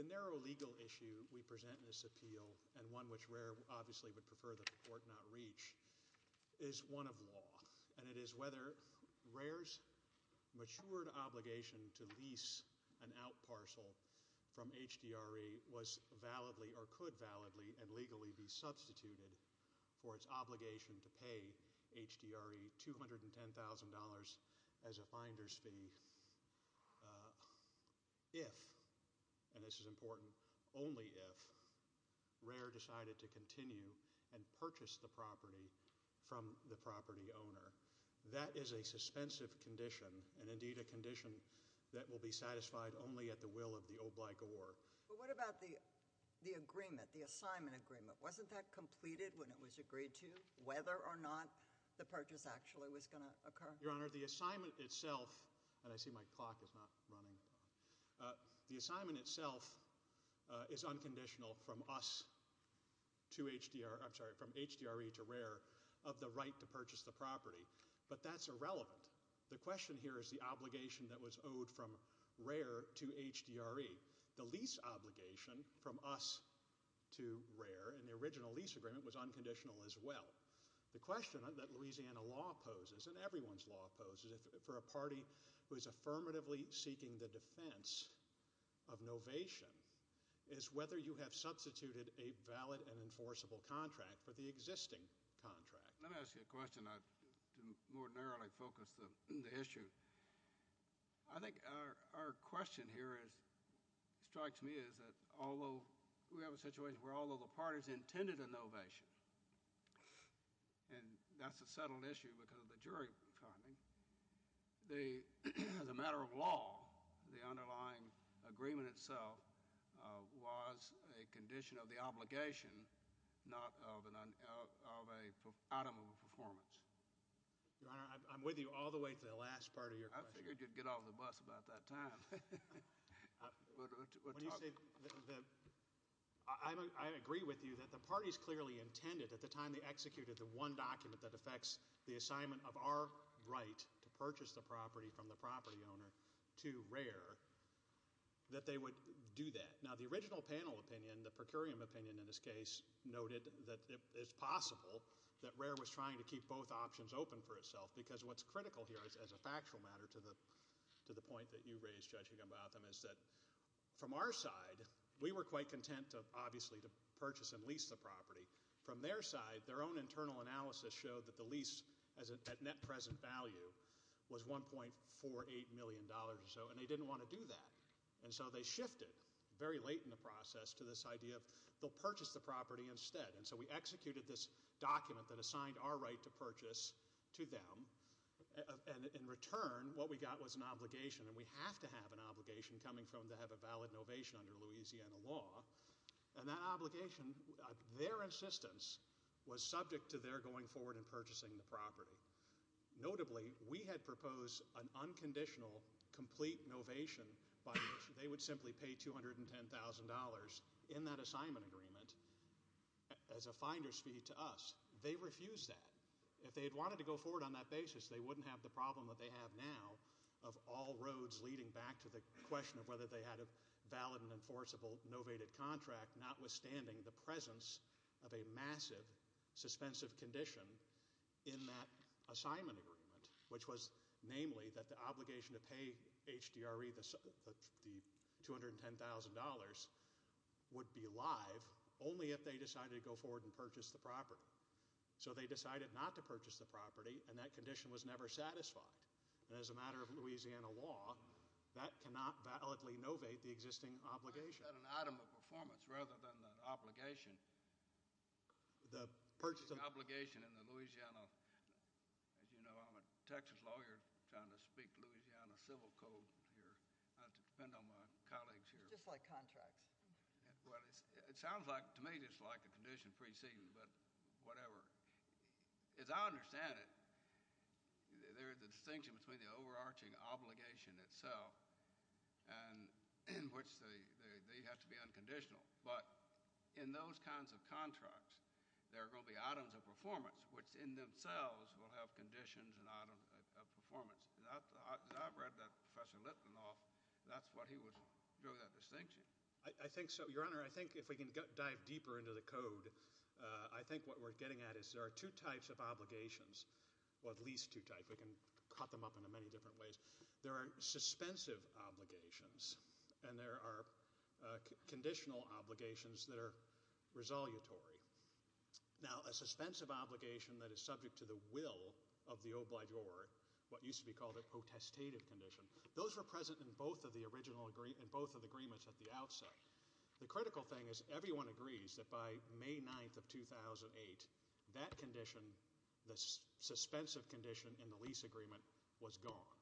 the Narrow Legal Issue we present in this appeal, and one which RARE obviously would prefer that the Court not reach, is one of law, and it is whether RARE's matured obligation to lease an out parcel from HDRE was validly or could validly and legally be substituted for its obligation to pay HDRE $210,000 as a finder's fee if, and this is important, only if, RARE decided to continue and purchase the property from the property owner. That is a suspensive condition, and indeed a condition that will be satisfied only at the will of the obligor. What about the agreement, the assignment agreement, wasn't that completed when it was agreed to? Whether or not the purchase actually was going to occur? Your Honor, the assignment itself, and I see my clock is not running, the assignment itself is unconditional from us to HDRE, I'm sorry, from HDRE to RARE of the right to purchase the property, but that's irrelevant. The question here is the obligation that was owed from RARE to HDRE. The lease obligation from us to RARE in the original lease agreement was unconditional as well. The question that Louisiana law poses, and everyone's law poses, for a party who is affirmatively seeking the defense of novation, is whether you have substituted a valid and enforceable contract for the existing contract. Let me ask you a question to more narrowly focus the issue. I think our question here strikes me as although we have a situation where although the parties intended a novation, and that's a settled issue because of the jury finding, as a matter of law, the underlying agreement itself was a condition of the obligation, not of an item of performance. Your Honor, I'm with you all the way to the last part of your question. I figured you'd get off the bus about that time. What do you say? I agree with you that the parties clearly intended at the time they executed the one document that affects the assignment of our right to purchase the property from the property owner to RARE that they would do that. Now, the original panel opinion, the per curiam opinion in this case, noted that it's possible that RARE was trying to keep both options open for itself because what's critical here as a factual matter to the point that you raised, Judge Gumbotham, is that from our side we were quite content, obviously, to purchase and lease the property. From their side, their own internal analysis showed that the lease at net present value was $1.48 million or so, and they didn't want to do that. They shifted very late in the process to this idea of they'll purchase the property instead. We executed this document that assigned our right to purchase to them. In return, what we got was an obligation, and we have to have an obligation coming from to have a valid novation under Louisiana law, and that obligation, their insistence was subject to their going forward and purchasing the property. Notably, we had proposed an unconditional complete novation by which they would simply pay $210,000 in that assignment agreement as a finder's fee to us. They refused that. If they had wanted to go forward on that basis, they wouldn't have the problem that they have now of all roads leading back to the question of whether they had a valid and enforceable notwithstanding the presence of a massive, suspensive condition in that assignment agreement, which was namely that the obligation to pay HDRE the $210,000 would be live only if they decided to go forward and purchase the property. They decided not to purchase the property, and that condition was never satisfied. As a matter of Louisiana law, that cannot validly novate the existing obligation. I've got an item of performance rather than the obligation. The purchasing obligation in the Louisiana—as you know, I'm a Texas lawyer trying to speak Louisiana civil code here. I have to depend on my colleagues here. It's just like contracts. Well, it sounds to me just like the condition preceding, but whatever. As I understand it, there is a distinction between the overarching obligation itself and in which they have to be unconditional. But in those kinds of contracts, there are going to be items of performance, which in themselves will have conditions and items of performance. As I've read that Professor Litvinoff, that's what he was—drew that distinction. I think so. Your Honor, I think if we can dive deeper into the code, I think what we're getting at is there are two types of obligations, or at least two types. We can cut them up into many different ways. There are suspensive obligations and there are conditional obligations that are resolutory. Now, a suspensive obligation that is subject to the will of the obligeur, what used to be called a protestative condition, those were present in both of the agreements at the outset. The critical thing is everyone agrees that by May 9th of 2008, that condition, the suspensive condition in the lease agreement, was gone.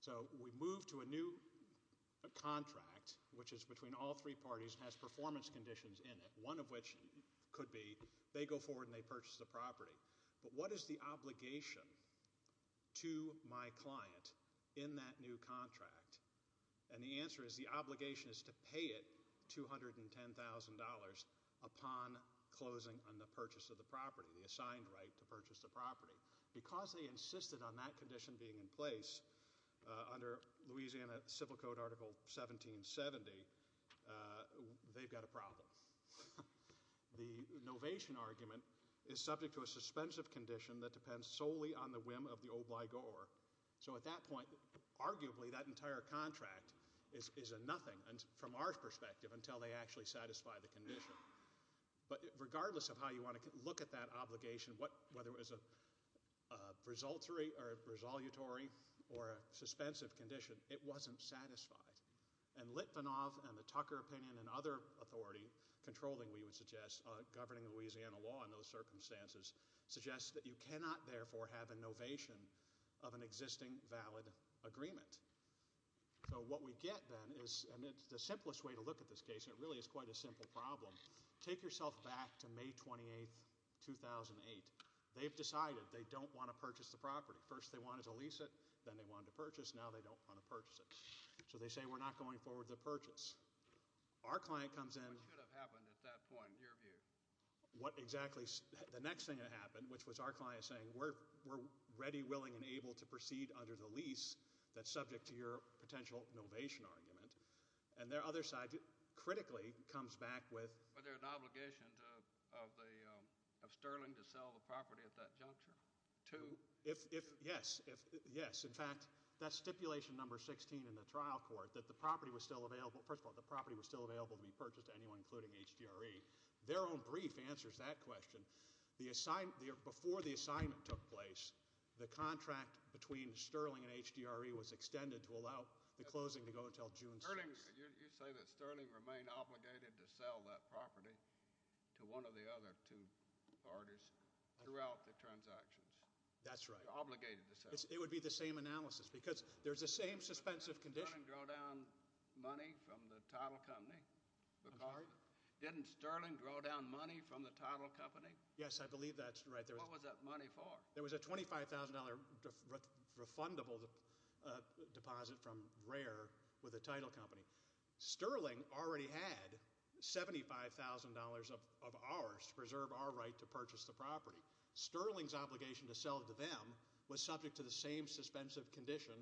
So we move to a new contract, which is between all three parties and has performance conditions in it, one of which could be they go forward and they purchase the property. But what is the obligation to my client in that new contract? The answer is the obligation is to pay it $210,000 upon closing on the purchase of the property, the assigned right to purchase the property. Because they insisted on that condition being in place under Louisiana Civil Code Article 1770, they've got a problem. The novation argument is subject to a suspensive condition that depends solely on the whim of the obligeur. So at that point, arguably that entire contract is a nothing from our perspective until they actually satisfy the condition. But regardless of how you want to look at that obligation, whether it was a resolutory or a suspensive condition, it wasn't satisfied. And Litvinov and the Tucker opinion and other authority controlling, we would suggest, governing Louisiana law in those circumstances, suggests that you cannot therefore have a novation of an existing valid agreement. So what we get then is, and it's the simplest way to look at this case, and it really is quite a simple problem, take yourself back to May 28, 2008. They've decided they don't want to purchase the property. First, they wanted to lease it, then they wanted to purchase, now they don't want to purchase it. So they say, we're not going forward with the purchase. Our client comes in. What should have happened at that point, in your view? What exactly, the next thing that happened, which was our client saying, we're ready, willing, and able to proceed under the lease that's subject to your potential novation argument. And their other side, critically, comes back with... Was there an obligation of Sterling to sell the property at that juncture? Yes. Yes. In fact, that's stipulation number 16 in the trial court, that the property was still available. First of all, the property was still available to be purchased to anyone, including HDRE. Their own brief answers that question. Before the assignment took place, the contract between Sterling and HDRE was extended to allow the closing to go until June 6th. You say that Sterling remained obligated to sell that property to one of the other two parties throughout the transactions. That's right. Obligated to sell. It would be the same analysis, because there's the same suspensive condition. Didn't Sterling draw down money from the title company? I'm sorry? Didn't Sterling draw down money from the title company? Yes, I believe that's right. What was that money for? There was a $25,000 refundable deposit from RARE with the title company. Sterling already had $75,000 of ours to preserve our right to purchase the property. Sterling's obligation to sell it to them was subject to the same suspensive condition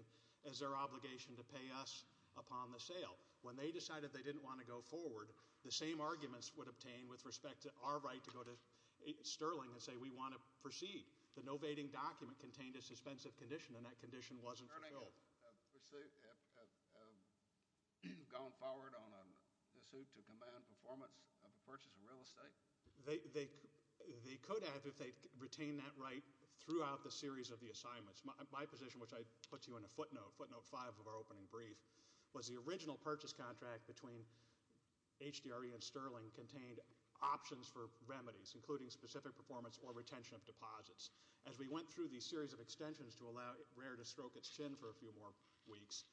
as their obligation to pay us upon the sale. When they decided they didn't want to go forward, the same arguments would obtain with respect to our right to go to Sterling and say we want to proceed. The no-vating document contained a suspensive condition, and that condition wasn't fulfilled. Has Sterling gone forward on a suit to command performance of a purchase of real estate? They could have if they retained that right throughout the series of the assignments. My position, which I put to you in a footnote, footnote 5 of our opening brief, was the original purchase contract between HDRE and Sterling contained options for remedies, including specific performance or retention of deposits. As we went through these series of extensions to allow RARE to stroke its chin for a few more weeks,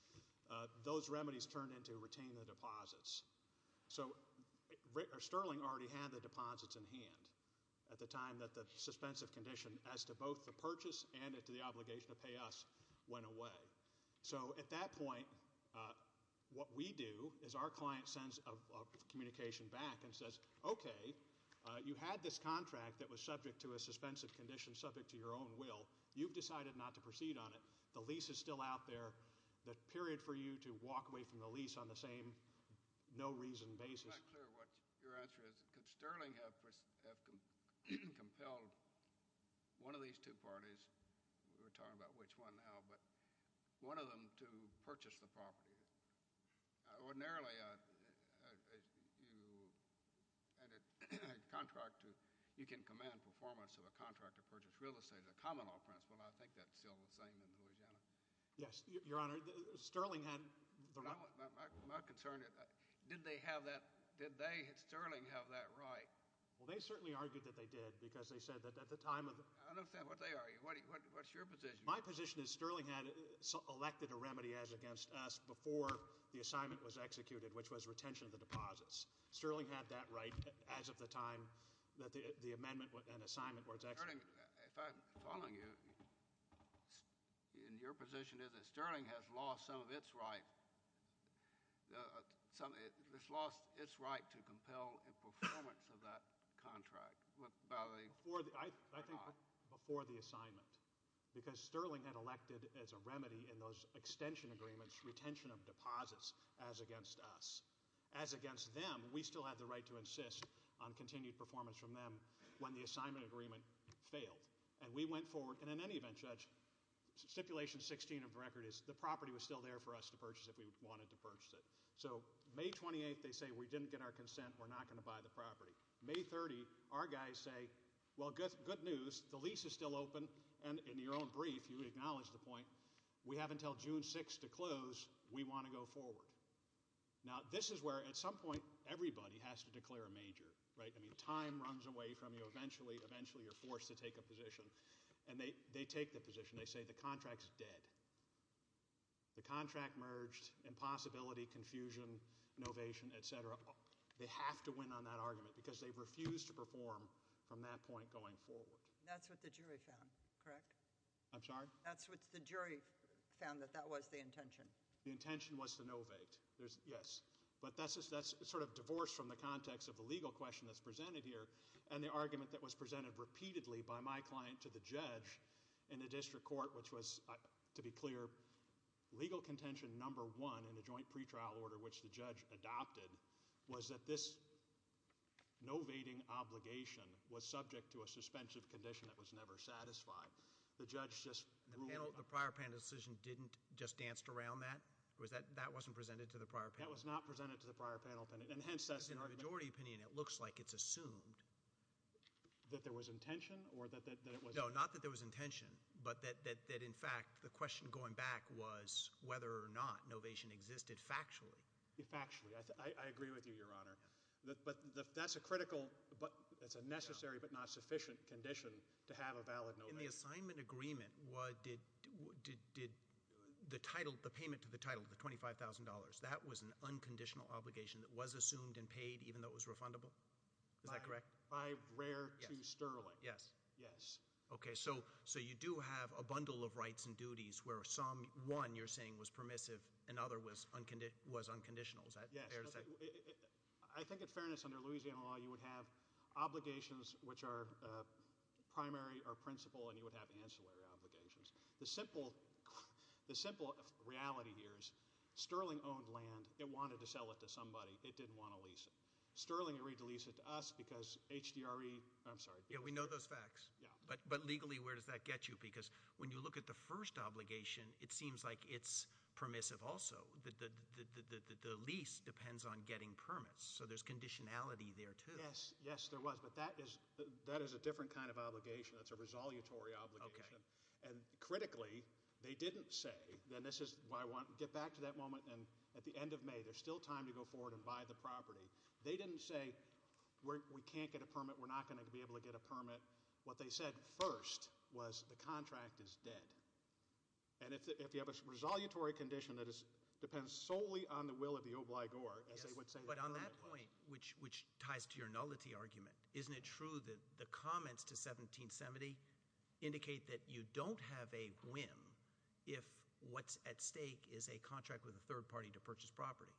those remedies turned into retaining the deposits. Sterling already had the deposits in hand at the time that the suspensive condition as to both the purchase and to the obligation to pay us went away. At that point, what we do is our client sends a communication back and says, okay, you had this contract that was subject to a suspensive condition subject to your own will. You've decided not to proceed on it. The lease is still out there. The period for you to walk away from the lease on the same no-reason basis. It's not clear what your answer is. Could Sterling have compelled one of these two parties? We're talking about which one now. One of them to purchase the property. Ordinarily, you can command performance of a contract to purchase real estate. The common law principle, I think that's still the same in Louisiana. Yes, Your Honor. Sterling had the right. My concern, did they have that, did they, Sterling, have that right? Well, they certainly argued that they did because they said that at the time of the What's your position? My position is Sterling had selected a remedy as against us before the assignment was executed, which was retention of the deposits. Sterling had that right as of the time that the amendment and assignment was executed. If I'm following you, your position is that Sterling has lost some of its right. It's lost its right to compel a performance of that contract. Before the assignment. Because Sterling had elected as a remedy in those extension agreements, retention of deposits as against us. As against them, we still have the right to insist on continued performance from them when the assignment agreement failed. And we went forward, and in any event, Judge, Stipulation 16 of the record is the property was still there for us to purchase if we wanted to purchase it. So, May 28th, they say we didn't get our consent, we're not going to buy the property. May 30, our guys say, well, good news. The lease is still open, and in your own brief, you acknowledge the point. We have until June 6 to close. We want to go forward. Now, this is where at some point, everybody has to declare a major, right? I mean, time runs away from you. Eventually, you're forced to take a position. And they take the position. They say the contract's dead. The contract merged, impossibility, confusion, novation, et cetera. They have to win on that argument, because they've refused to perform from that point going forward. That's what the jury found, correct? I'm sorry? That's what the jury found, that that was the intention. The intention was to novate. Yes. But that's sort of divorced from the context of the legal question that's presented here, and the argument that was presented repeatedly by my client to the judge in the district court, which was, to be clear, legal contention number one in the joint pretrial order, which the judge adopted, was that this novating obligation was subject to a suspensive condition that was never satisfied. The judge just ruled— The prior panel decision didn't just danced around that? That wasn't presented to the prior panel? That was not presented to the prior panel. And hence, that's the argument— Because in the majority opinion, it looks like it's assumed. That there was intention, or that it was— No, not that there was intention, but that, in fact, the question going back was whether or not novation existed factually. Factually. I agree with you, Your Honor. But that's a critical—it's a necessary but not sufficient condition to have a valid novation. In the assignment agreement, did the payment to the title, the $25,000, that was an unconditional obligation that was assumed and paid even though it was refundable? Is that correct? By rare to sterling. Yes. Yes. Okay, so you do have a bundle of rights and duties where some, one you're saying was permissive and other was unconditional. Is that fair to say? Yes. I think in fairness, under Louisiana law, you would have obligations which are primary or principal and you would have ancillary obligations. The simple reality here is sterling owned land. It wanted to sell it to somebody. It didn't want to lease it. Sterling agreed to lease it to us because HDRE—I'm sorry. Yeah, we know those facts. Yeah. But legally, where does that get you? Because when you look at the first obligation, it seems like it's permissive also. The lease depends on getting permits. So there's conditionality there, too. Yes. Yes, there was. But that is a different kind of obligation. That's a resolutory obligation. Okay. And critically, they didn't say—and this is why I want to get back to that moment. At the end of May, there's still time to go forward and buy the property. They didn't say, we can't get a permit. We're not going to be able to get a permit. What they said first was the contract is dead. And if you have a resolutory condition that depends solely on the will of the obligor, as they would say— Yes, but on that point, which ties to your nullity argument, isn't it true that the comments to 1770 indicate that you don't have a whim if what's at stake is a contract with a third party to purchase property?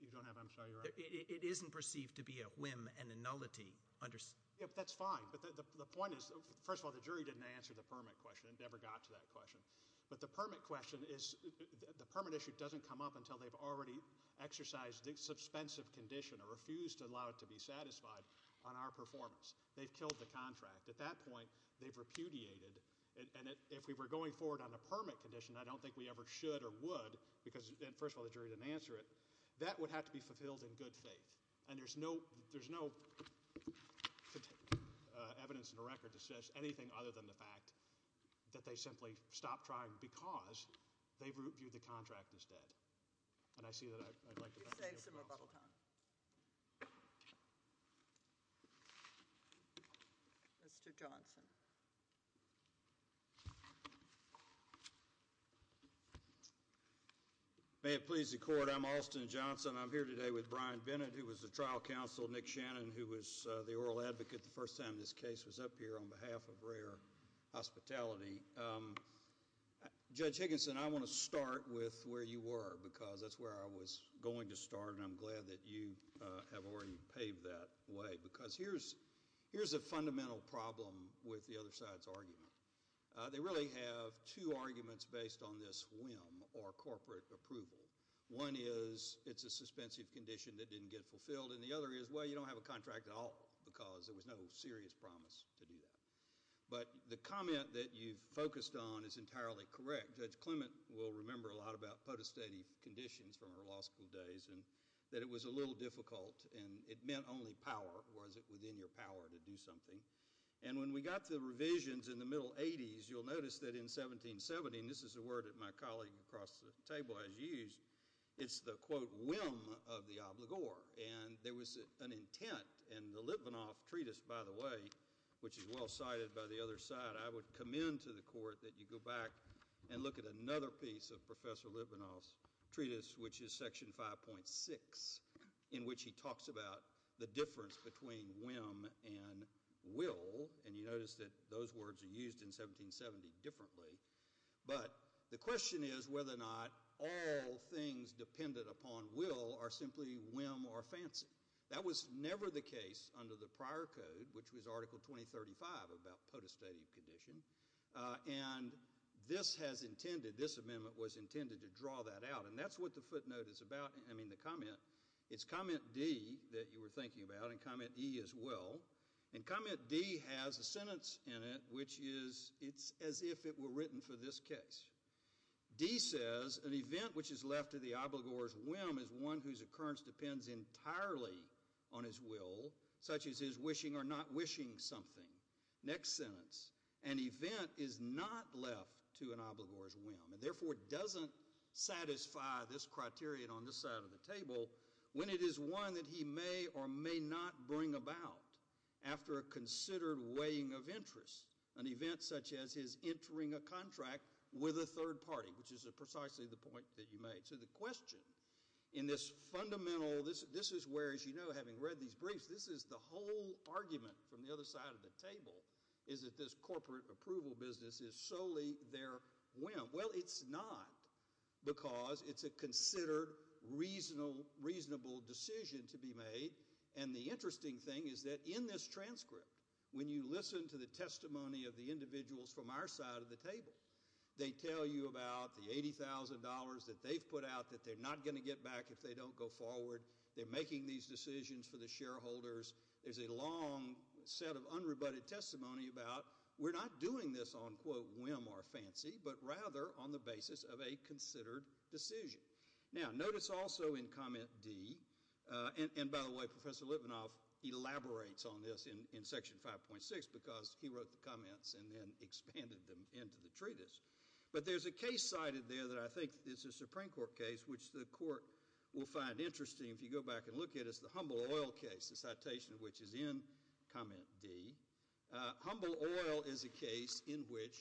You don't have—I'm sorry. It isn't perceived to be a whim and a nullity. That's fine. But the point is, first of all, the jury didn't answer the permit question. It never got to that question. But the permit question is—the permit issue doesn't come up until they've already exercised the suspensive condition or refused to allow it to be satisfied on our performance. They've killed the contract. At that point, they've repudiated. And if we were going forward on a permit condition, I don't think we ever should or would, because, first of all, the jury didn't answer it. That would have to be fulfilled in good faith. And there's no evidence in the record that says anything other than the fact that they simply stopped trying because they've reviewed the contract instead. And I see that I'd like to— He's saying some rebuttal time. Mr. Johnson. May it please the Court. I'm Alston Johnson. I'm here today with Brian Bennett, who was the trial counsel, Nick Shannon, who was the oral advocate the first time this case was up here on behalf of Rare Hospitality. Judge Higginson, I want to start with where you were, because that's where I was going to start, and I'm glad that you have already paved that way. Because here's a fundamental problem with the other side's argument. They really have two arguments based on this whim or corporate approval. One is it's a suspensive condition that didn't get fulfilled, and the other is, well, you don't have a contract at all because there was no serious promise to do that. But the comment that you've focused on is entirely correct. Judge Clement will remember a lot about potestative conditions from her law school days, and that it was a little difficult, and it meant only power. Was it within your power to do something? And when we got to the revisions in the middle 80s, you'll notice that in 1770, and this is a word that my colleague across the table has used, it's the, quote, whim of the obligor. And there was an intent, and the Litvinoff Treatise, by the way, which is well cited by the other side, I would commend to the Court that you go back and look at another piece of Professor Litvinoff's Treatise, which is Section 5.6, in which he talks about the difference between whim and will, and you notice that those words are used in 1770 differently, but the question is whether or not all things dependent upon will are simply whim or fancy. That was never the case under the prior code, which was Article 2035 about potestative condition, and this has intended, this amendment was intended to draw that out, and that's what the footnote is about, I mean the comment, it's Comment D that you were thinking about, and Comment E as well, and Comment D has a sentence in it which is, it's as if it were written for this case. D says, an event which is left to the obligor's whim is one whose occurrence depends entirely on his will, such as his wishing or not wishing something. Next sentence, an event is not left to an obligor's whim, and therefore doesn't satisfy this criterion on this side of the table when it is one that he may or may not bring about after a considered weighing of interest, an event such as his entering a contract with a third party, which is precisely the point that you made. So the question in this fundamental, this is where, as you know, having read these briefs, this is the whole argument from the other side of the table, is that this corporate approval business is solely their whim. Well, it's not, because it's a considered reasonable decision to be made, and the interesting thing is that in this transcript, when you listen to the testimony of the individuals from our side of the table, they tell you about the $80,000 that they've put out that they're not going to get back if they don't go forward, they're making these decisions for the shareholders, there's a long set of unrebutted testimony about we're not doing this on, quote, whim or fancy, but rather on the basis of a considered decision. Now, notice also in comment D, and by the way, Professor Litvinoff elaborates on this in section 5.6, because he wrote the comments and then expanded them into the treatise, but there's a case cited there that I think is a Supreme Court case, which the court will find interesting if you go back and look at it, it's the Humble Oil case, the citation of which is in comment D. Humble Oil is a case in which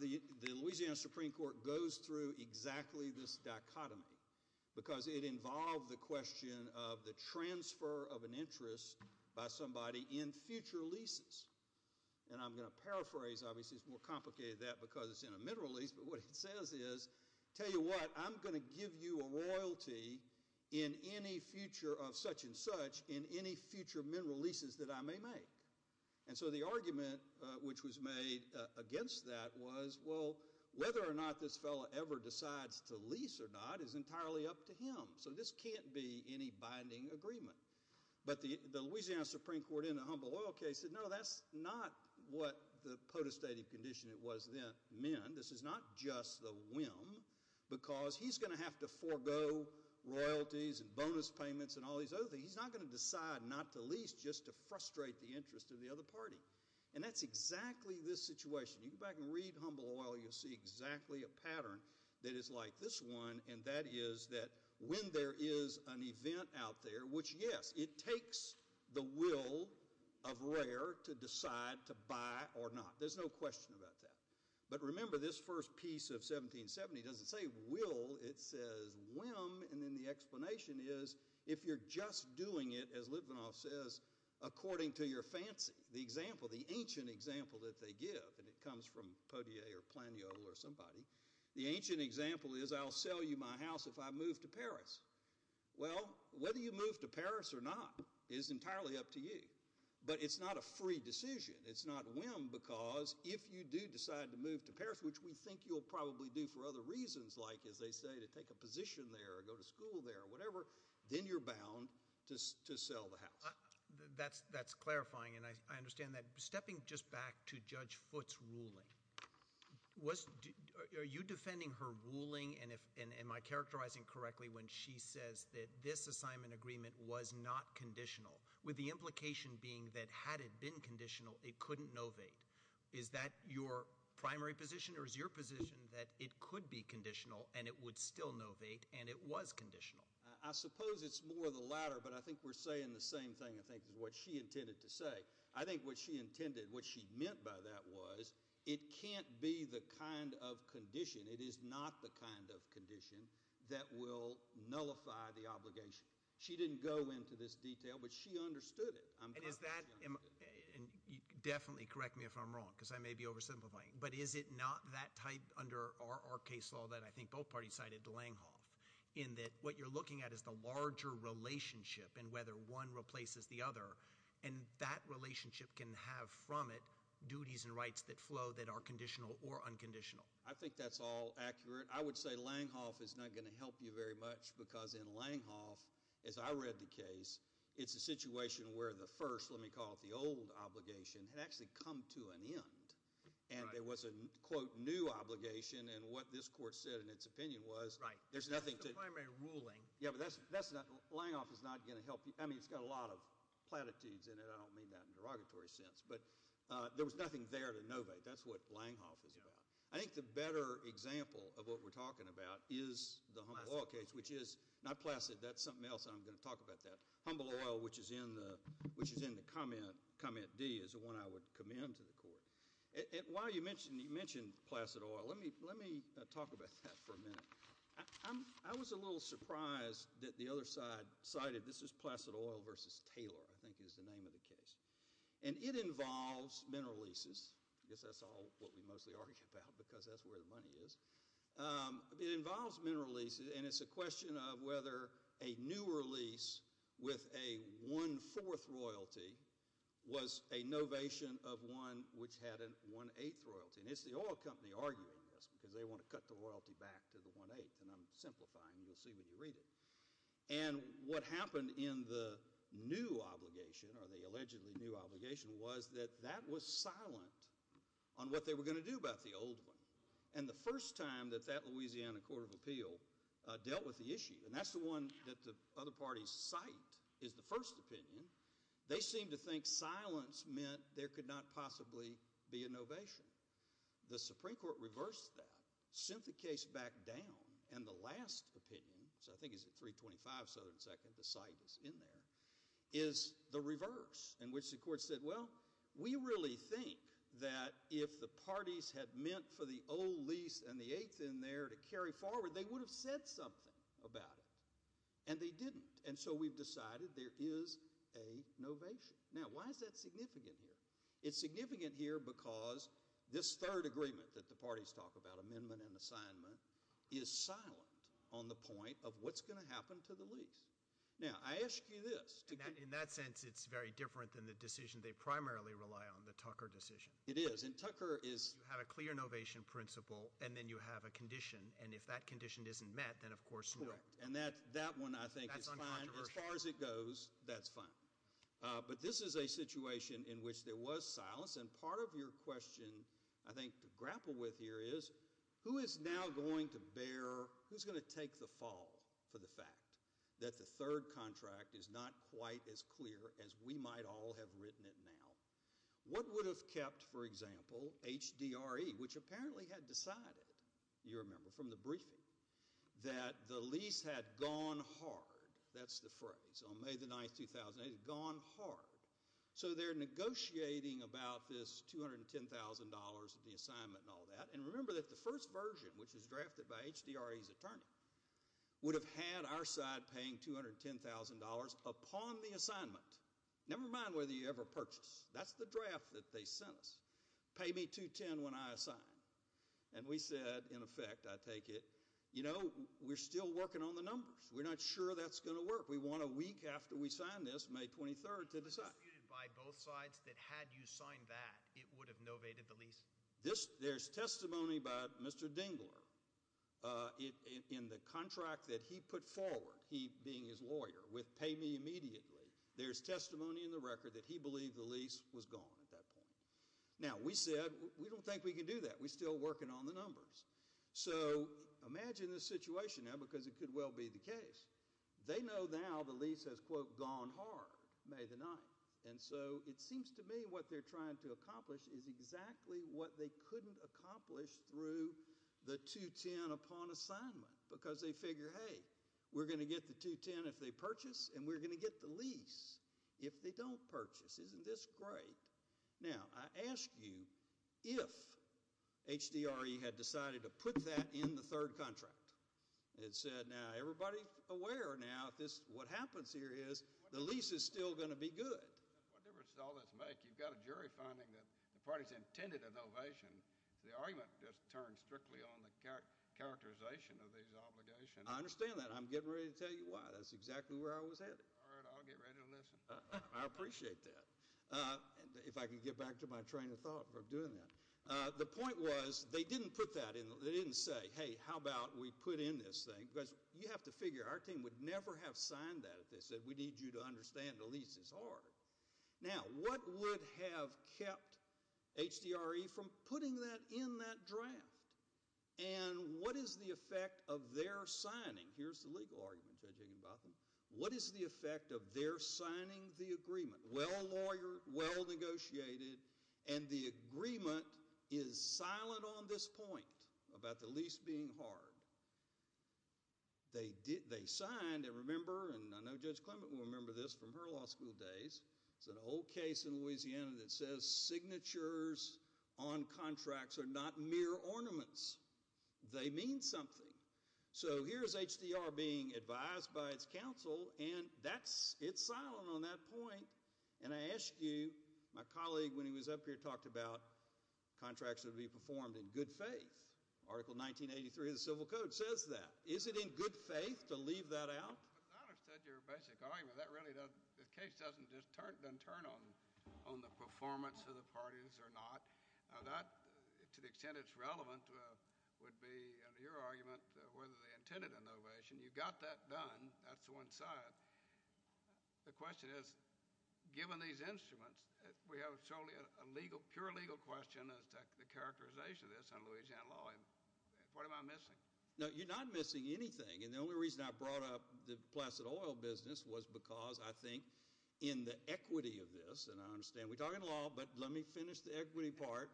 the Louisiana Supreme Court goes through exactly this dichotomy, because it involved the question of the transfer of an interest by somebody in future leases, and I'm going to paraphrase, obviously it's more complicated than that because it's in a mineral lease, but what it says is, tell you what, I'm going to give you a royalty in any future of such and such in any future mineral leases that I may make, and so the argument which was made against that was, well, whether or not this fellow ever decides to lease or not is entirely up to him, so this can't be any binding agreement. But the Louisiana Supreme Court in the Humble Oil case said, no, that's not what the court said, because he's going to have to forego royalties and bonus payments and all these other things, he's not going to decide not to lease just to frustrate the interest of the other party, and that's exactly this situation. You go back and read Humble Oil, you'll see exactly a pattern that is like this one, and that is that when there is an event out there, which yes, it takes the will of rare to decide to buy or not, there's no question about that, but remember this first piece of 1770 doesn't say will, it says whim, and then the explanation is, if you're just doing it, as Litvinoff says, according to your fancy, the example, the ancient example that they give, and it comes from Poitier or Planiol or somebody, the ancient example is I'll sell you my house if I move to Paris. Well, whether you move to Paris or not is entirely up to you, but it's not a free decision, it's not whim, because if you do decide to move to Paris, which we think you'll probably do for other reasons, like as they say, to take a position there or go to school there or whatever, then you're bound to sell the house. That's clarifying, and I understand that. Stepping just back to Judge Foote's ruling, are you defending her ruling, and am I characterizing correctly when she says that this assignment agreement was not conditional, with the implication being that had it been conditional, it couldn't novate? Is that your primary position, or is your position that it could be conditional, and it would still novate, and it was conditional? I suppose it's more of the latter, but I think we're saying the same thing, I think, is what she intended to say. I think what she intended, what she meant by that was, it can't be the kind of condition, it is not the kind of condition, that will nullify the obligation. She didn't go into this detail, but she understood it. And is that, definitely correct me if I'm wrong, because I may be oversimplifying, but is it not that tight under our case law that I think both parties cited to Langhoff, in that what you're looking at is the larger relationship, and whether one replaces the other, and that relationship can have from it duties and rights that flow that are conditional or unconditional. I think that's all accurate. I would say Langhoff is not going to help you very much, because in Langhoff, as I read the case, it's a situation where the first, let me call it the old obligation, had actually come to an end, and there was a, quote, new obligation, and what this court said in its opinion was, there's nothing to- That's the primary ruling. Yeah, but that's not, Langhoff is not going to help you, I mean, it's got a lot of platitudes in it, I don't mean that in a derogatory sense, but there was nothing there to novate, that's what Langhoff is about. I think the better example of what we're talking about is the Humble Oil case, which is, not Placid, that's something else, and I'm going to talk about that. Humble Oil, which is in the comment D, is the one I would commend to the court. While you mentioned Placid Oil, let me talk about that for a minute. I was a little surprised that the other side cited, this is Placid Oil versus Taylor, I think is the name of the case, and it involves mineral leases, I guess that's what we mostly argue about, because that's where the money is. It involves mineral leases, and it's a question of whether a newer lease with a 1 4th royalty was a novation of one which had a 1 8th royalty, and it's the oil company arguing this, because they want to cut the royalty back to the 1 8th, and I'm simplifying, you'll see when you read it. And what happened in the new obligation, or the allegedly new obligation, was that that was silent on what they were going to do about the old one, and the first time that that Louisiana Court of Appeal dealt with the issue, and that's the one that the other parties cite is the first opinion, they seem to think silence meant there could not possibly be a novation. The Supreme Court reversed that, sent the case back down, and the last opinion, which I think is at 3 25 Southern 2nd, the site is in there, is the reverse, in which the think that if the parties had meant for the old lease and the 8th in there to carry forward, they would have said something about it, and they didn't. And so we've decided there is a novation. Now, why is that significant here? It's significant here because this third agreement that the parties talk about, amendment and assignment, is silent on the point of what's going to happen to the lease. Now, I ask you this. In that sense, it's very different than the decision they primarily rely on, the Tucker decision. It is. And Tucker is... You have a clear novation principle, and then you have a condition, and if that condition isn't met, then of course, no. Correct. And that one, I think, is fine. That's uncontroversial. As far as it goes, that's fine. But this is a situation in which there was silence, and part of your question, I think, to grapple with here is, who is now going to bear, who's going to take the fall for the fact that the third contract is not quite as clear as we might all have written it now? What would have kept, for example, HDRE, which apparently had decided, you remember, from the briefing, that the lease had gone hard. That's the phrase. On May the 9th, 2008, it had gone hard. So they're negotiating about this $210,000 of the assignment and all that, and remember that the first version, which was drafted by HDRE's attorney, would have had our side paying $210,000 upon the assignment, never mind whether you ever purchased. That's the draft that they sent us. Pay me $210,000 when I assign. And we said, in effect, I take it, you know, we're still working on the numbers. We're not sure that's going to work. We want a week after we sign this, May 23rd, to decide. Was it disputed by both sides that had you signed that, it would have novated the lease? There's testimony by Mr. Dingler in the contract that he put forward, he being his lawyer, with pay me immediately. There's testimony in the record that he believed the lease was gone at that point. Now, we said, we don't think we can do that. We're still working on the numbers. So imagine this situation now, because it could well be the case. They know now the lease has, quote, gone hard, May the 9th. And so it seems to me what they're trying to accomplish is exactly what they couldn't accomplish through the $210,000 upon assignment. Because they figure, hey, we're going to get the $210,000 if they purchase, and we're going to get the lease if they don't purchase. Isn't this great? Now, I ask you, if HDRE had decided to put that in the third contract, it said, now, everybody aware now, what happens here is the lease is still going to be good. What difference does all this make? You've got a jury finding that the parties intended a novation. The argument just turned strictly on the characterization of these obligations. I understand that. I'm getting ready to tell you why. That's exactly where I was headed. All right, I'll get ready to listen. I appreciate that. If I can get back to my train of thought for doing that. The point was they didn't put that in. They didn't say, hey, how about we put in this thing? Because you have to figure, our team would never have signed that if they said, we need you to understand the lease is hard. Now, what would have kept HDRE from putting that in that draft? And what is the effect of their signing? Here's the legal argument, Judge Higginbotham. What is the effect of their signing the agreement? Well negotiated. And the agreement is silent on this point about the lease being hard. They signed, and remember, and I know Judge Clement will remember this from her law school days. There's an old case in Louisiana that says signatures on contracts are not mere ornaments. They mean something. So here's HDR being advised by its counsel, and it's silent on that point. And I ask you, my colleague when he was up here talked about contracts that would be performed in good faith. Article 1983 of the Civil Code says that. Is it in good faith to leave that out? But that is your basic argument. That really doesn't, the case doesn't just turn on the performance of the parties or not. That, to the extent it's relevant, would be, under your argument, whether they intended an ovation. You got that done. That's the one side. The question is, given these instruments, we have a purely legal question as to the characterization of this in Louisiana law. What am I missing? No, you're not missing anything. And the only reason I brought up the Placid Oil business was because I think in the equity of this, and I understand we're talking law, but let me finish the equity part.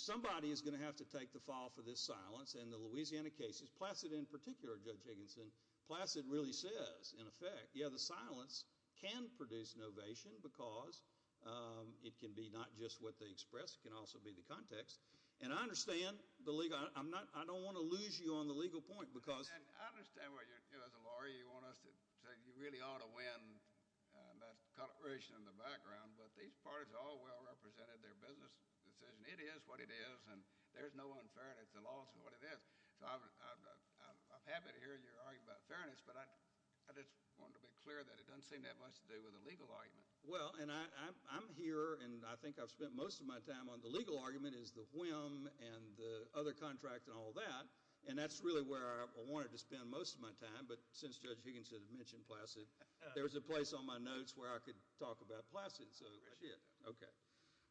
Somebody is going to have to take the fall for this silence in the Louisiana cases. Placid in particular, Judge Higginson. Placid really says, in effect, yeah, the silence can produce an ovation because it can be not just what they express. It can also be the context. And I understand the legal, I don't want to lose you on the legal point because I understand what you're, as a lawyer, you want us to, you really ought to win that collaboration in the background. But these parties all well represented their business decision. It is what it is, and there's no unfairness. The law is what it is. I'm happy to hear your argument about fairness, but I just want to be clear that it doesn't seem that much to do with a legal argument. Well, and I'm here, and I think I've spent most of my time on the legal argument, is the WHM and the other contract and all that. And that's really where I wanted to spend most of my time, but since Judge Higginson mentioned Placid, there's a place on my notes where I could talk about Placid. I appreciate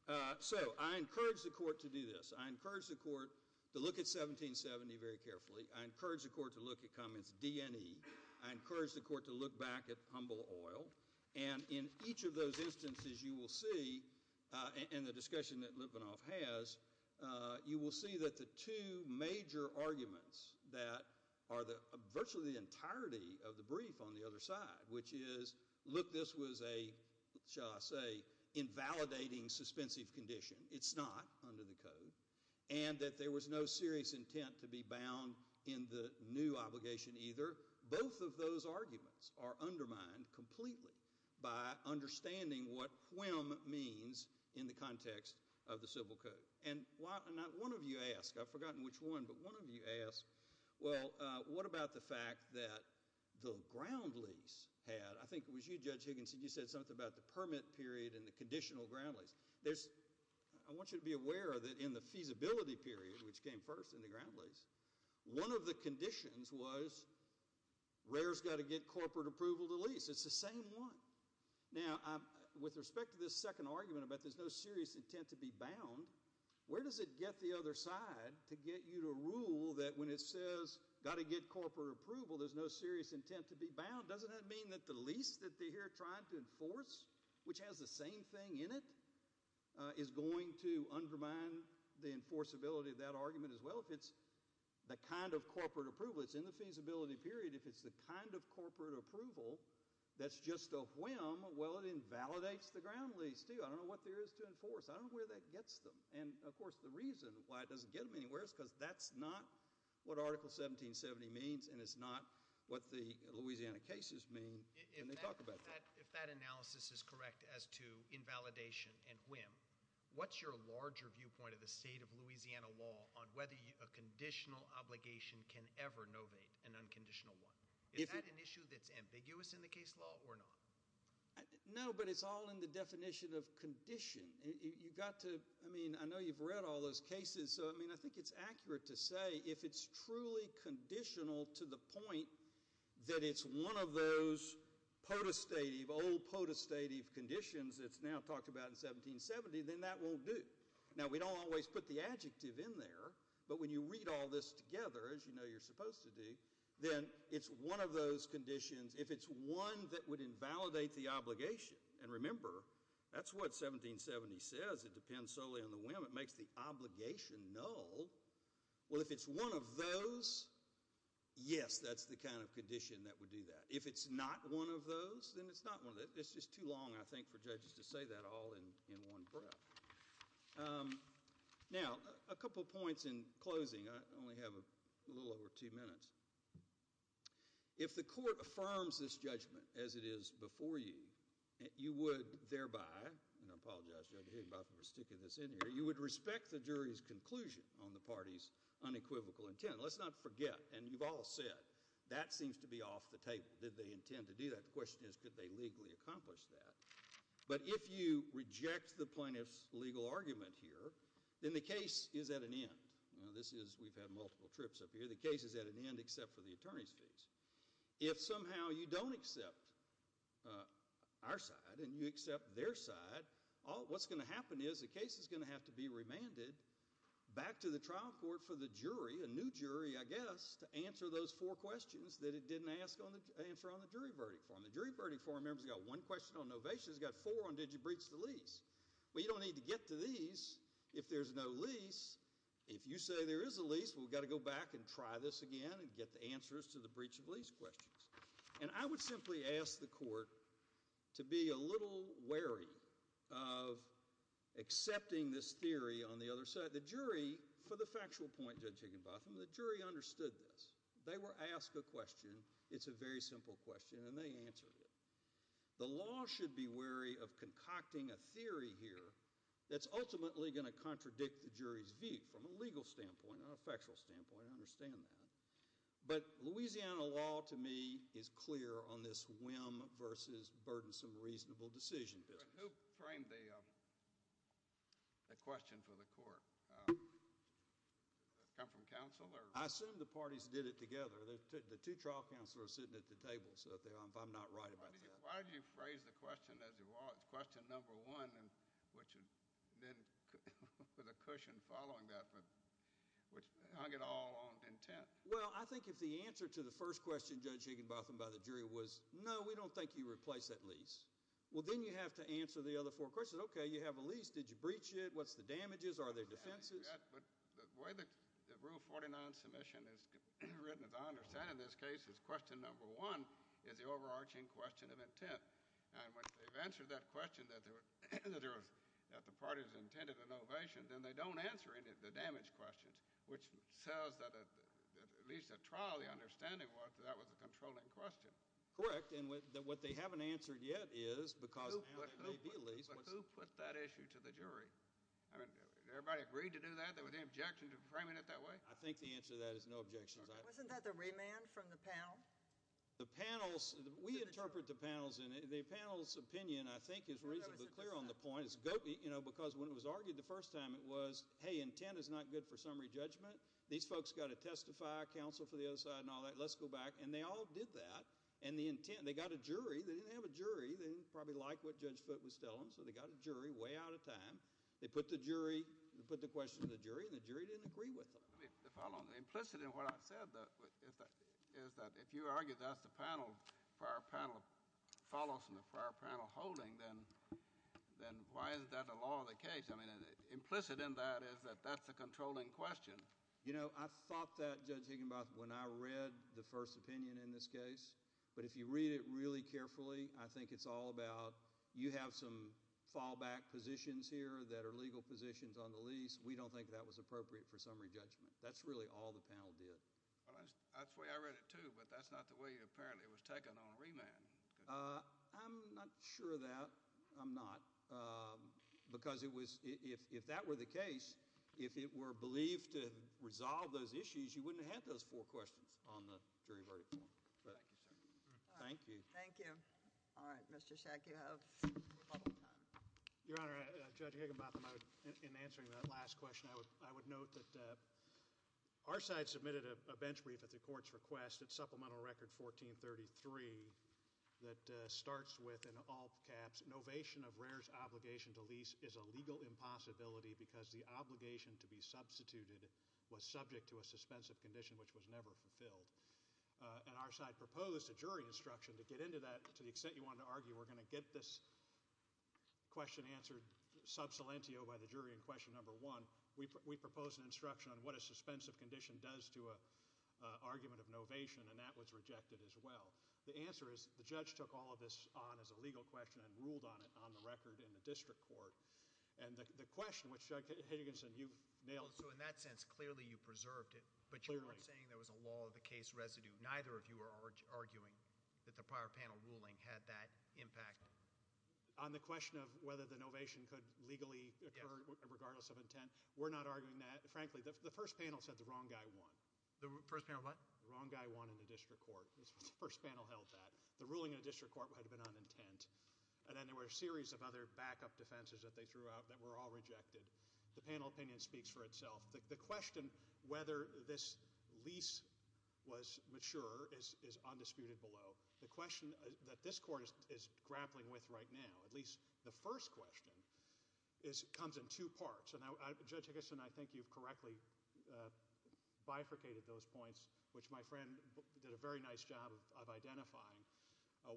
that. So, I encourage the court to do this. I encourage the court to look at 1770 very carefully. I encourage the court to look at Cummins' D&E. I encourage the court to look back at Humble Oil. And in each of those instances, you will see, and the discussion that Lipinoff has, you will see that the two major arguments that are virtually the entirety of the brief on the other side, which is, look, this was a, shall I say, invalidating, suspensive condition. It's not under the Code. And that there was no serious intent to be bound in the new obligation either. Both of those arguments are undermined completely by understanding what WHM means in the context of the Civil Code. And one of you asked, I've forgotten which one, but one of you asked, well, what about the fact that the ground lease had, I think it was you, Judge Higginson, you said something about the permit period and the conditional ground lease. I want you to be aware that in the feasibility period, which came first in the ground lease, one of the conditions was, RARE's got to get corporate approval to lease. It's the same one. Now, with respect to this second argument about there's no serious intent to be bound, where does it get the other side to get you to rule that when it says, got to get corporate approval, there's no serious intent to be bound? Doesn't that mean that the lease that they're here trying to enforce, which has the same thing in it, is going to undermine the enforceability of that argument as well? If it's the kind of corporate approval that's in the feasibility period, if it's the kind of corporate approval that's just a WHM, well, it invalidates the ground lease, too. I don't know what there is to enforce. I don't know where that gets them. And, of course, the reason why it doesn't get them anywhere is because that's not what Article 1770 means, and it's not what the Louisiana cases mean, and they talk about that. If that analysis is correct as to invalidation and WHM, what's your larger viewpoint of the state of Louisiana law on whether a conditional obligation can ever novate an unconditional one? Is that an issue that's ambiguous in the case law or not? No, but it's all in the definition of condition. You've got to, I mean, I know you've read all those cases, so, I mean, I think it's accurate to say if it's truly conditional to the point that it's one of those potestative, old potestative conditions that's now talked about in 1770, then that won't do. Now, we don't always put the adjective in there, but when you read all this together, as you know you're supposed to do, then it's one of those conditions. If it's one that would invalidate the obligation, and remember, that's what 1770 says. It depends solely on the WHM. It makes the obligation null. Well, if it's one of those, yes, that's the kind of condition that would do that. If it's not one of those, then it's not one of those. It's just too long, I think, for judges to say that all in one breath. Now, a couple points in closing. I only have a little over two minutes. If the court affirms this judgment as it is before you, you would thereby, and I apologize to everybody for sticking this in here, you would respect the jury's conclusion on the party's unequivocal intent. Let's not forget, and you've all said, that seems to be off the table. Did they intend to do that? The question is, could they legally accomplish that? But if you reject the plaintiff's legal argument here, then the case is at an end. We've had multiple trips up here. The case is at an end, except for the attorney's fees. If somehow you don't accept our side, and you accept their side, then what's going to happen is the case is going to have to be remanded back to the trial court for the jury, a new jury, I guess, to answer those four questions that it didn't answer on the jury verdict form. The jury verdict form, remember, has got one question on novation. It's got four on did you breach the lease. Well, you don't need to get to these if there's no lease. If you say there is a lease, well, we've got to go back and try this again and get the answers to the breach of lease questions. And I would simply ask the court to be a little wary of accepting this theory on the other side. The jury, for the factual point, Judge Higginbotham, the jury understood this. They were asked a question. It's a very simple question, and they answered it. The law should be wary of concocting a theory here that's ultimately going to contradict the jury's view from a legal standpoint, not a factual standpoint. I understand that. But Louisiana law, to me, is clear on this whim versus burdensome, reasonable decision. Who framed the question for the court? Come from counsel? I assume the parties did it together. The two trial counselors are sitting at the table, so I'm not right about that. Why did you phrase the question as it was, question number one, which then was a cushion following that, which hung it all on intent? Well, I think if the answer to the first question, Judge Higginbotham, by the jury was, no, we don't think you replaced that lease. Well, then you have to answer the other four questions. Okay, you have a lease. Did you breach it? What's the damages? Are there defenses? The way that Rule 49 submission is written, as I understand it in this case, is question number one is the overarching question of intent. When they've answered that question that the parties intended an ovation, then they don't answer any of the damage questions, which says that at least at trial the understanding was that that was a controlling question. Correct, and what they haven't answered yet is because of the lease. Who put that issue to the jury? I mean, everybody agreed to do that? There were any objections to framing it that way? I think the answer to that is no objections. Wasn't that the remand from the panel? We interpret the panels, and the panel's opinion, I think, is reasonably clear on the point. Because when it was argued the first time, it was, hey, intent is not good for summary judgment. These folks got to testify, counsel for the other side, and all that. Let's go back, and they all did that. They got a jury. They didn't have a jury. They didn't probably like what Judge Foote was telling them, so they got a jury way out of time. They put the question to the jury, and the jury didn't agree with them. Implicit in what I've said is that if you argue that's the panel, follows from the prior panel holding, then why is that a law of the case? Implicit in that is that that's a controlling question. I thought that, Judge Higginbotham, when I read the first opinion in this case, but if you read it really carefully, I think it's all about you have some fallback positions here that are legal positions on the lease. We don't think that was appropriate for summary judgment. That's really all the panel did. I read it too, but that's not the way it was taken on remand. I'm not sure of that. I'm not. Because if that were the case, if it were believed to resolve those issues, you wouldn't have had those four questions on the jury verdict form. Thank you, sir. Thank you. Thank you. Mr. Shack, you have a couple of time. Your Honor, Judge Higginbotham, in answering that last question, I would note that our side submitted a bench brief at the court's request at Supplemental Record 1433 that starts with, in all caps, NOVATION OF REARS OBLIGATION TO LEASE IS A LEGAL IMPOSSIBILITY BECAUSE THE OBLIGATION TO BE SUBSTITUTED WAS SUBJECT TO A SUSPENSIVE CONDITION WHICH WAS NEVER FULFILLED. And our side proposed a jury instruction to get into that, to the extent you want to argue we're going to get this question answered sub silentio by the jury in question number one. We proposed an instruction on what a suspensive condition does to an argument of NOVATION and that was rejected as well. The answer is the judge took all of this on as a legal question and ruled on it on the record in the district court. And the question which, Judge Higginson, you've nailed. So in that sense, clearly you preserved it, but you weren't saying there was a law of the case residue. Neither of you were arguing that the prior panel ruling had that impact. On the question of whether the NOVATION could legally occur regardless of intent, we're not arguing that. Frankly, the first panel said the wrong guy won. The first panel what? The wrong guy won in the district court. The first panel held that. The ruling in the district court had been on intent. And then there were a series of other backup defenses that they threw out that were all rejected. The panel opinion speaks for itself. The question whether this lease was mature is undisputed below. The question that this court is grappling with right now, at least the first question, comes in two parts. Judge Higginson, I think you've correctly bifurcated those points, which my friend did a very nice job of identifying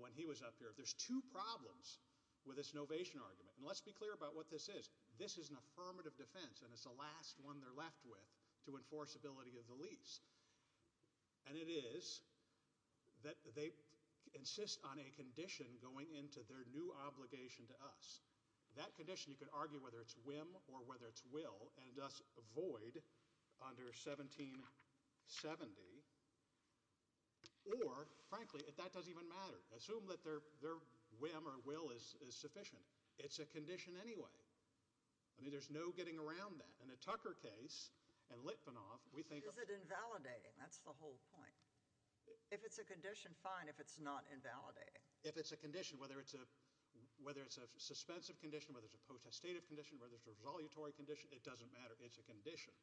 when he was up here. There's two problems with this NOVATION argument. Let's be clear about what this is. This is an affirmative defense, and it's the last one they're left with to enforce ability of the lease. And it is that they insist on a condition going into their new obligation to us. That condition, you could argue whether it's whim or whether it's will and thus void under 1770 or frankly, that doesn't even matter. Assume that their whim or will is sufficient. It's a condition anyway. I mean, there's no getting around that. In the Tucker case and Litvinov, we think... Is it invalidating? That's the whole point. If it's a condition, fine, if it's not invalidating. If it's a condition, whether it's a suspensive condition, whether it's a condition, it doesn't matter. It's a condition.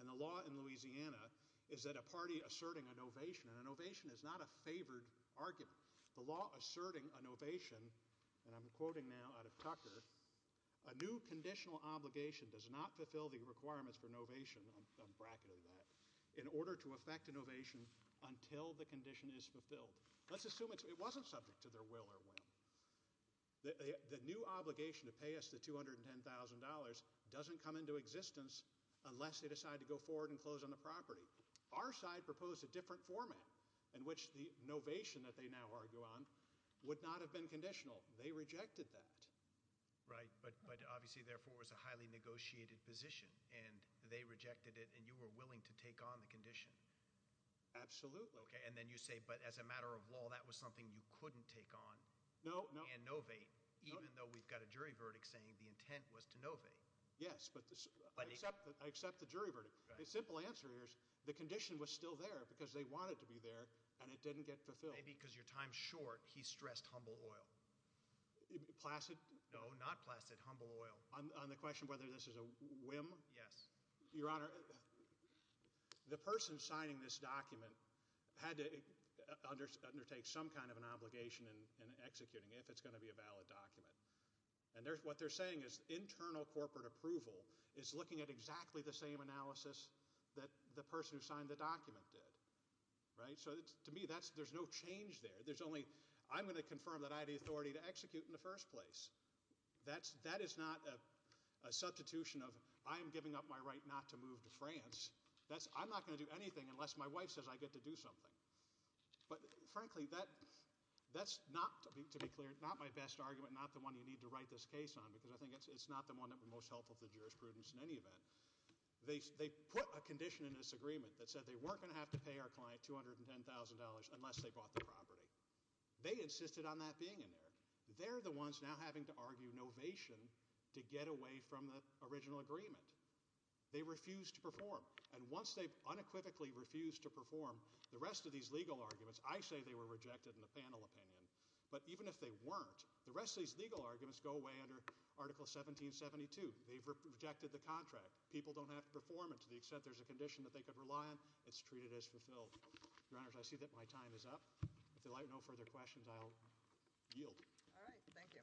And the law in Louisiana is that a party asserting a NOVATION, and a NOVATION is not a favored argument. The law asserting a NOVATION, and I'm quoting now out of Tucker, a new conditional obligation does not fulfill the requirements for NOVATION in order to affect a NOVATION until the condition is fulfilled. Let's assume it wasn't subject to their will or will. The new obligation to pay us the $210,000 doesn't come into existence unless they decide to go forward and close on the property. Our side proposed a different format in which the NOVATION that they now argue on would not have been conditional. They rejected that. Right, but obviously, therefore, it was a highly negotiated position, and they rejected it, and you were willing to take on the condition. Absolutely. Okay, and then you say, but as a matter of law, that was something you couldn't take on. No, no. And NOVATE, even though we've got a jury verdict saying the intent was to NOVATE. Yes, but I accept the jury verdict. The simple answer here is the condition was still there because they wanted to be there, and it didn't get fulfilled. Maybe because your time's short, he stressed humble oil. Placid? No, not placid. Humble oil. On the question whether this is a whim? Yes. Your Honor, the person signing this document had to undertake some kind of an obligation in executing if it's going to be a valid document. And what they're saying is internal corporate approval is looking at exactly the same analysis that the person who signed the document did. Right? So to me, there's no change there. I'm going to confirm that I had the authority to execute in the first place. That is not a substitution of, I am giving up my right not to move to France. I'm not going to do anything unless my wife says I get to do something. But frankly, that's not, to be clear, not my best argument, not the one you need to write this case on, because I think it's not the one that would be most helpful to jurisprudence in any event. They put a condition in this agreement that said they weren't going to have to pay our client $210,000 unless they bought the property. They insisted on that being in there. They're the ones now having to argue novation to get away from the original agreement. They refused to perform. And once they've unequivocally refused to perform the rest of these legal arguments, I say they were rejected in the panel opinion. But even if they weren't, the rest of these legal arguments go away under Article 1772. They've rejected the contract. People don't have to perform it to the extent there's a condition that they could rely on. It's treated as fulfilled. Your Honors, I see that my time is up. If there are no further questions, I'll yield. All right. Thank you.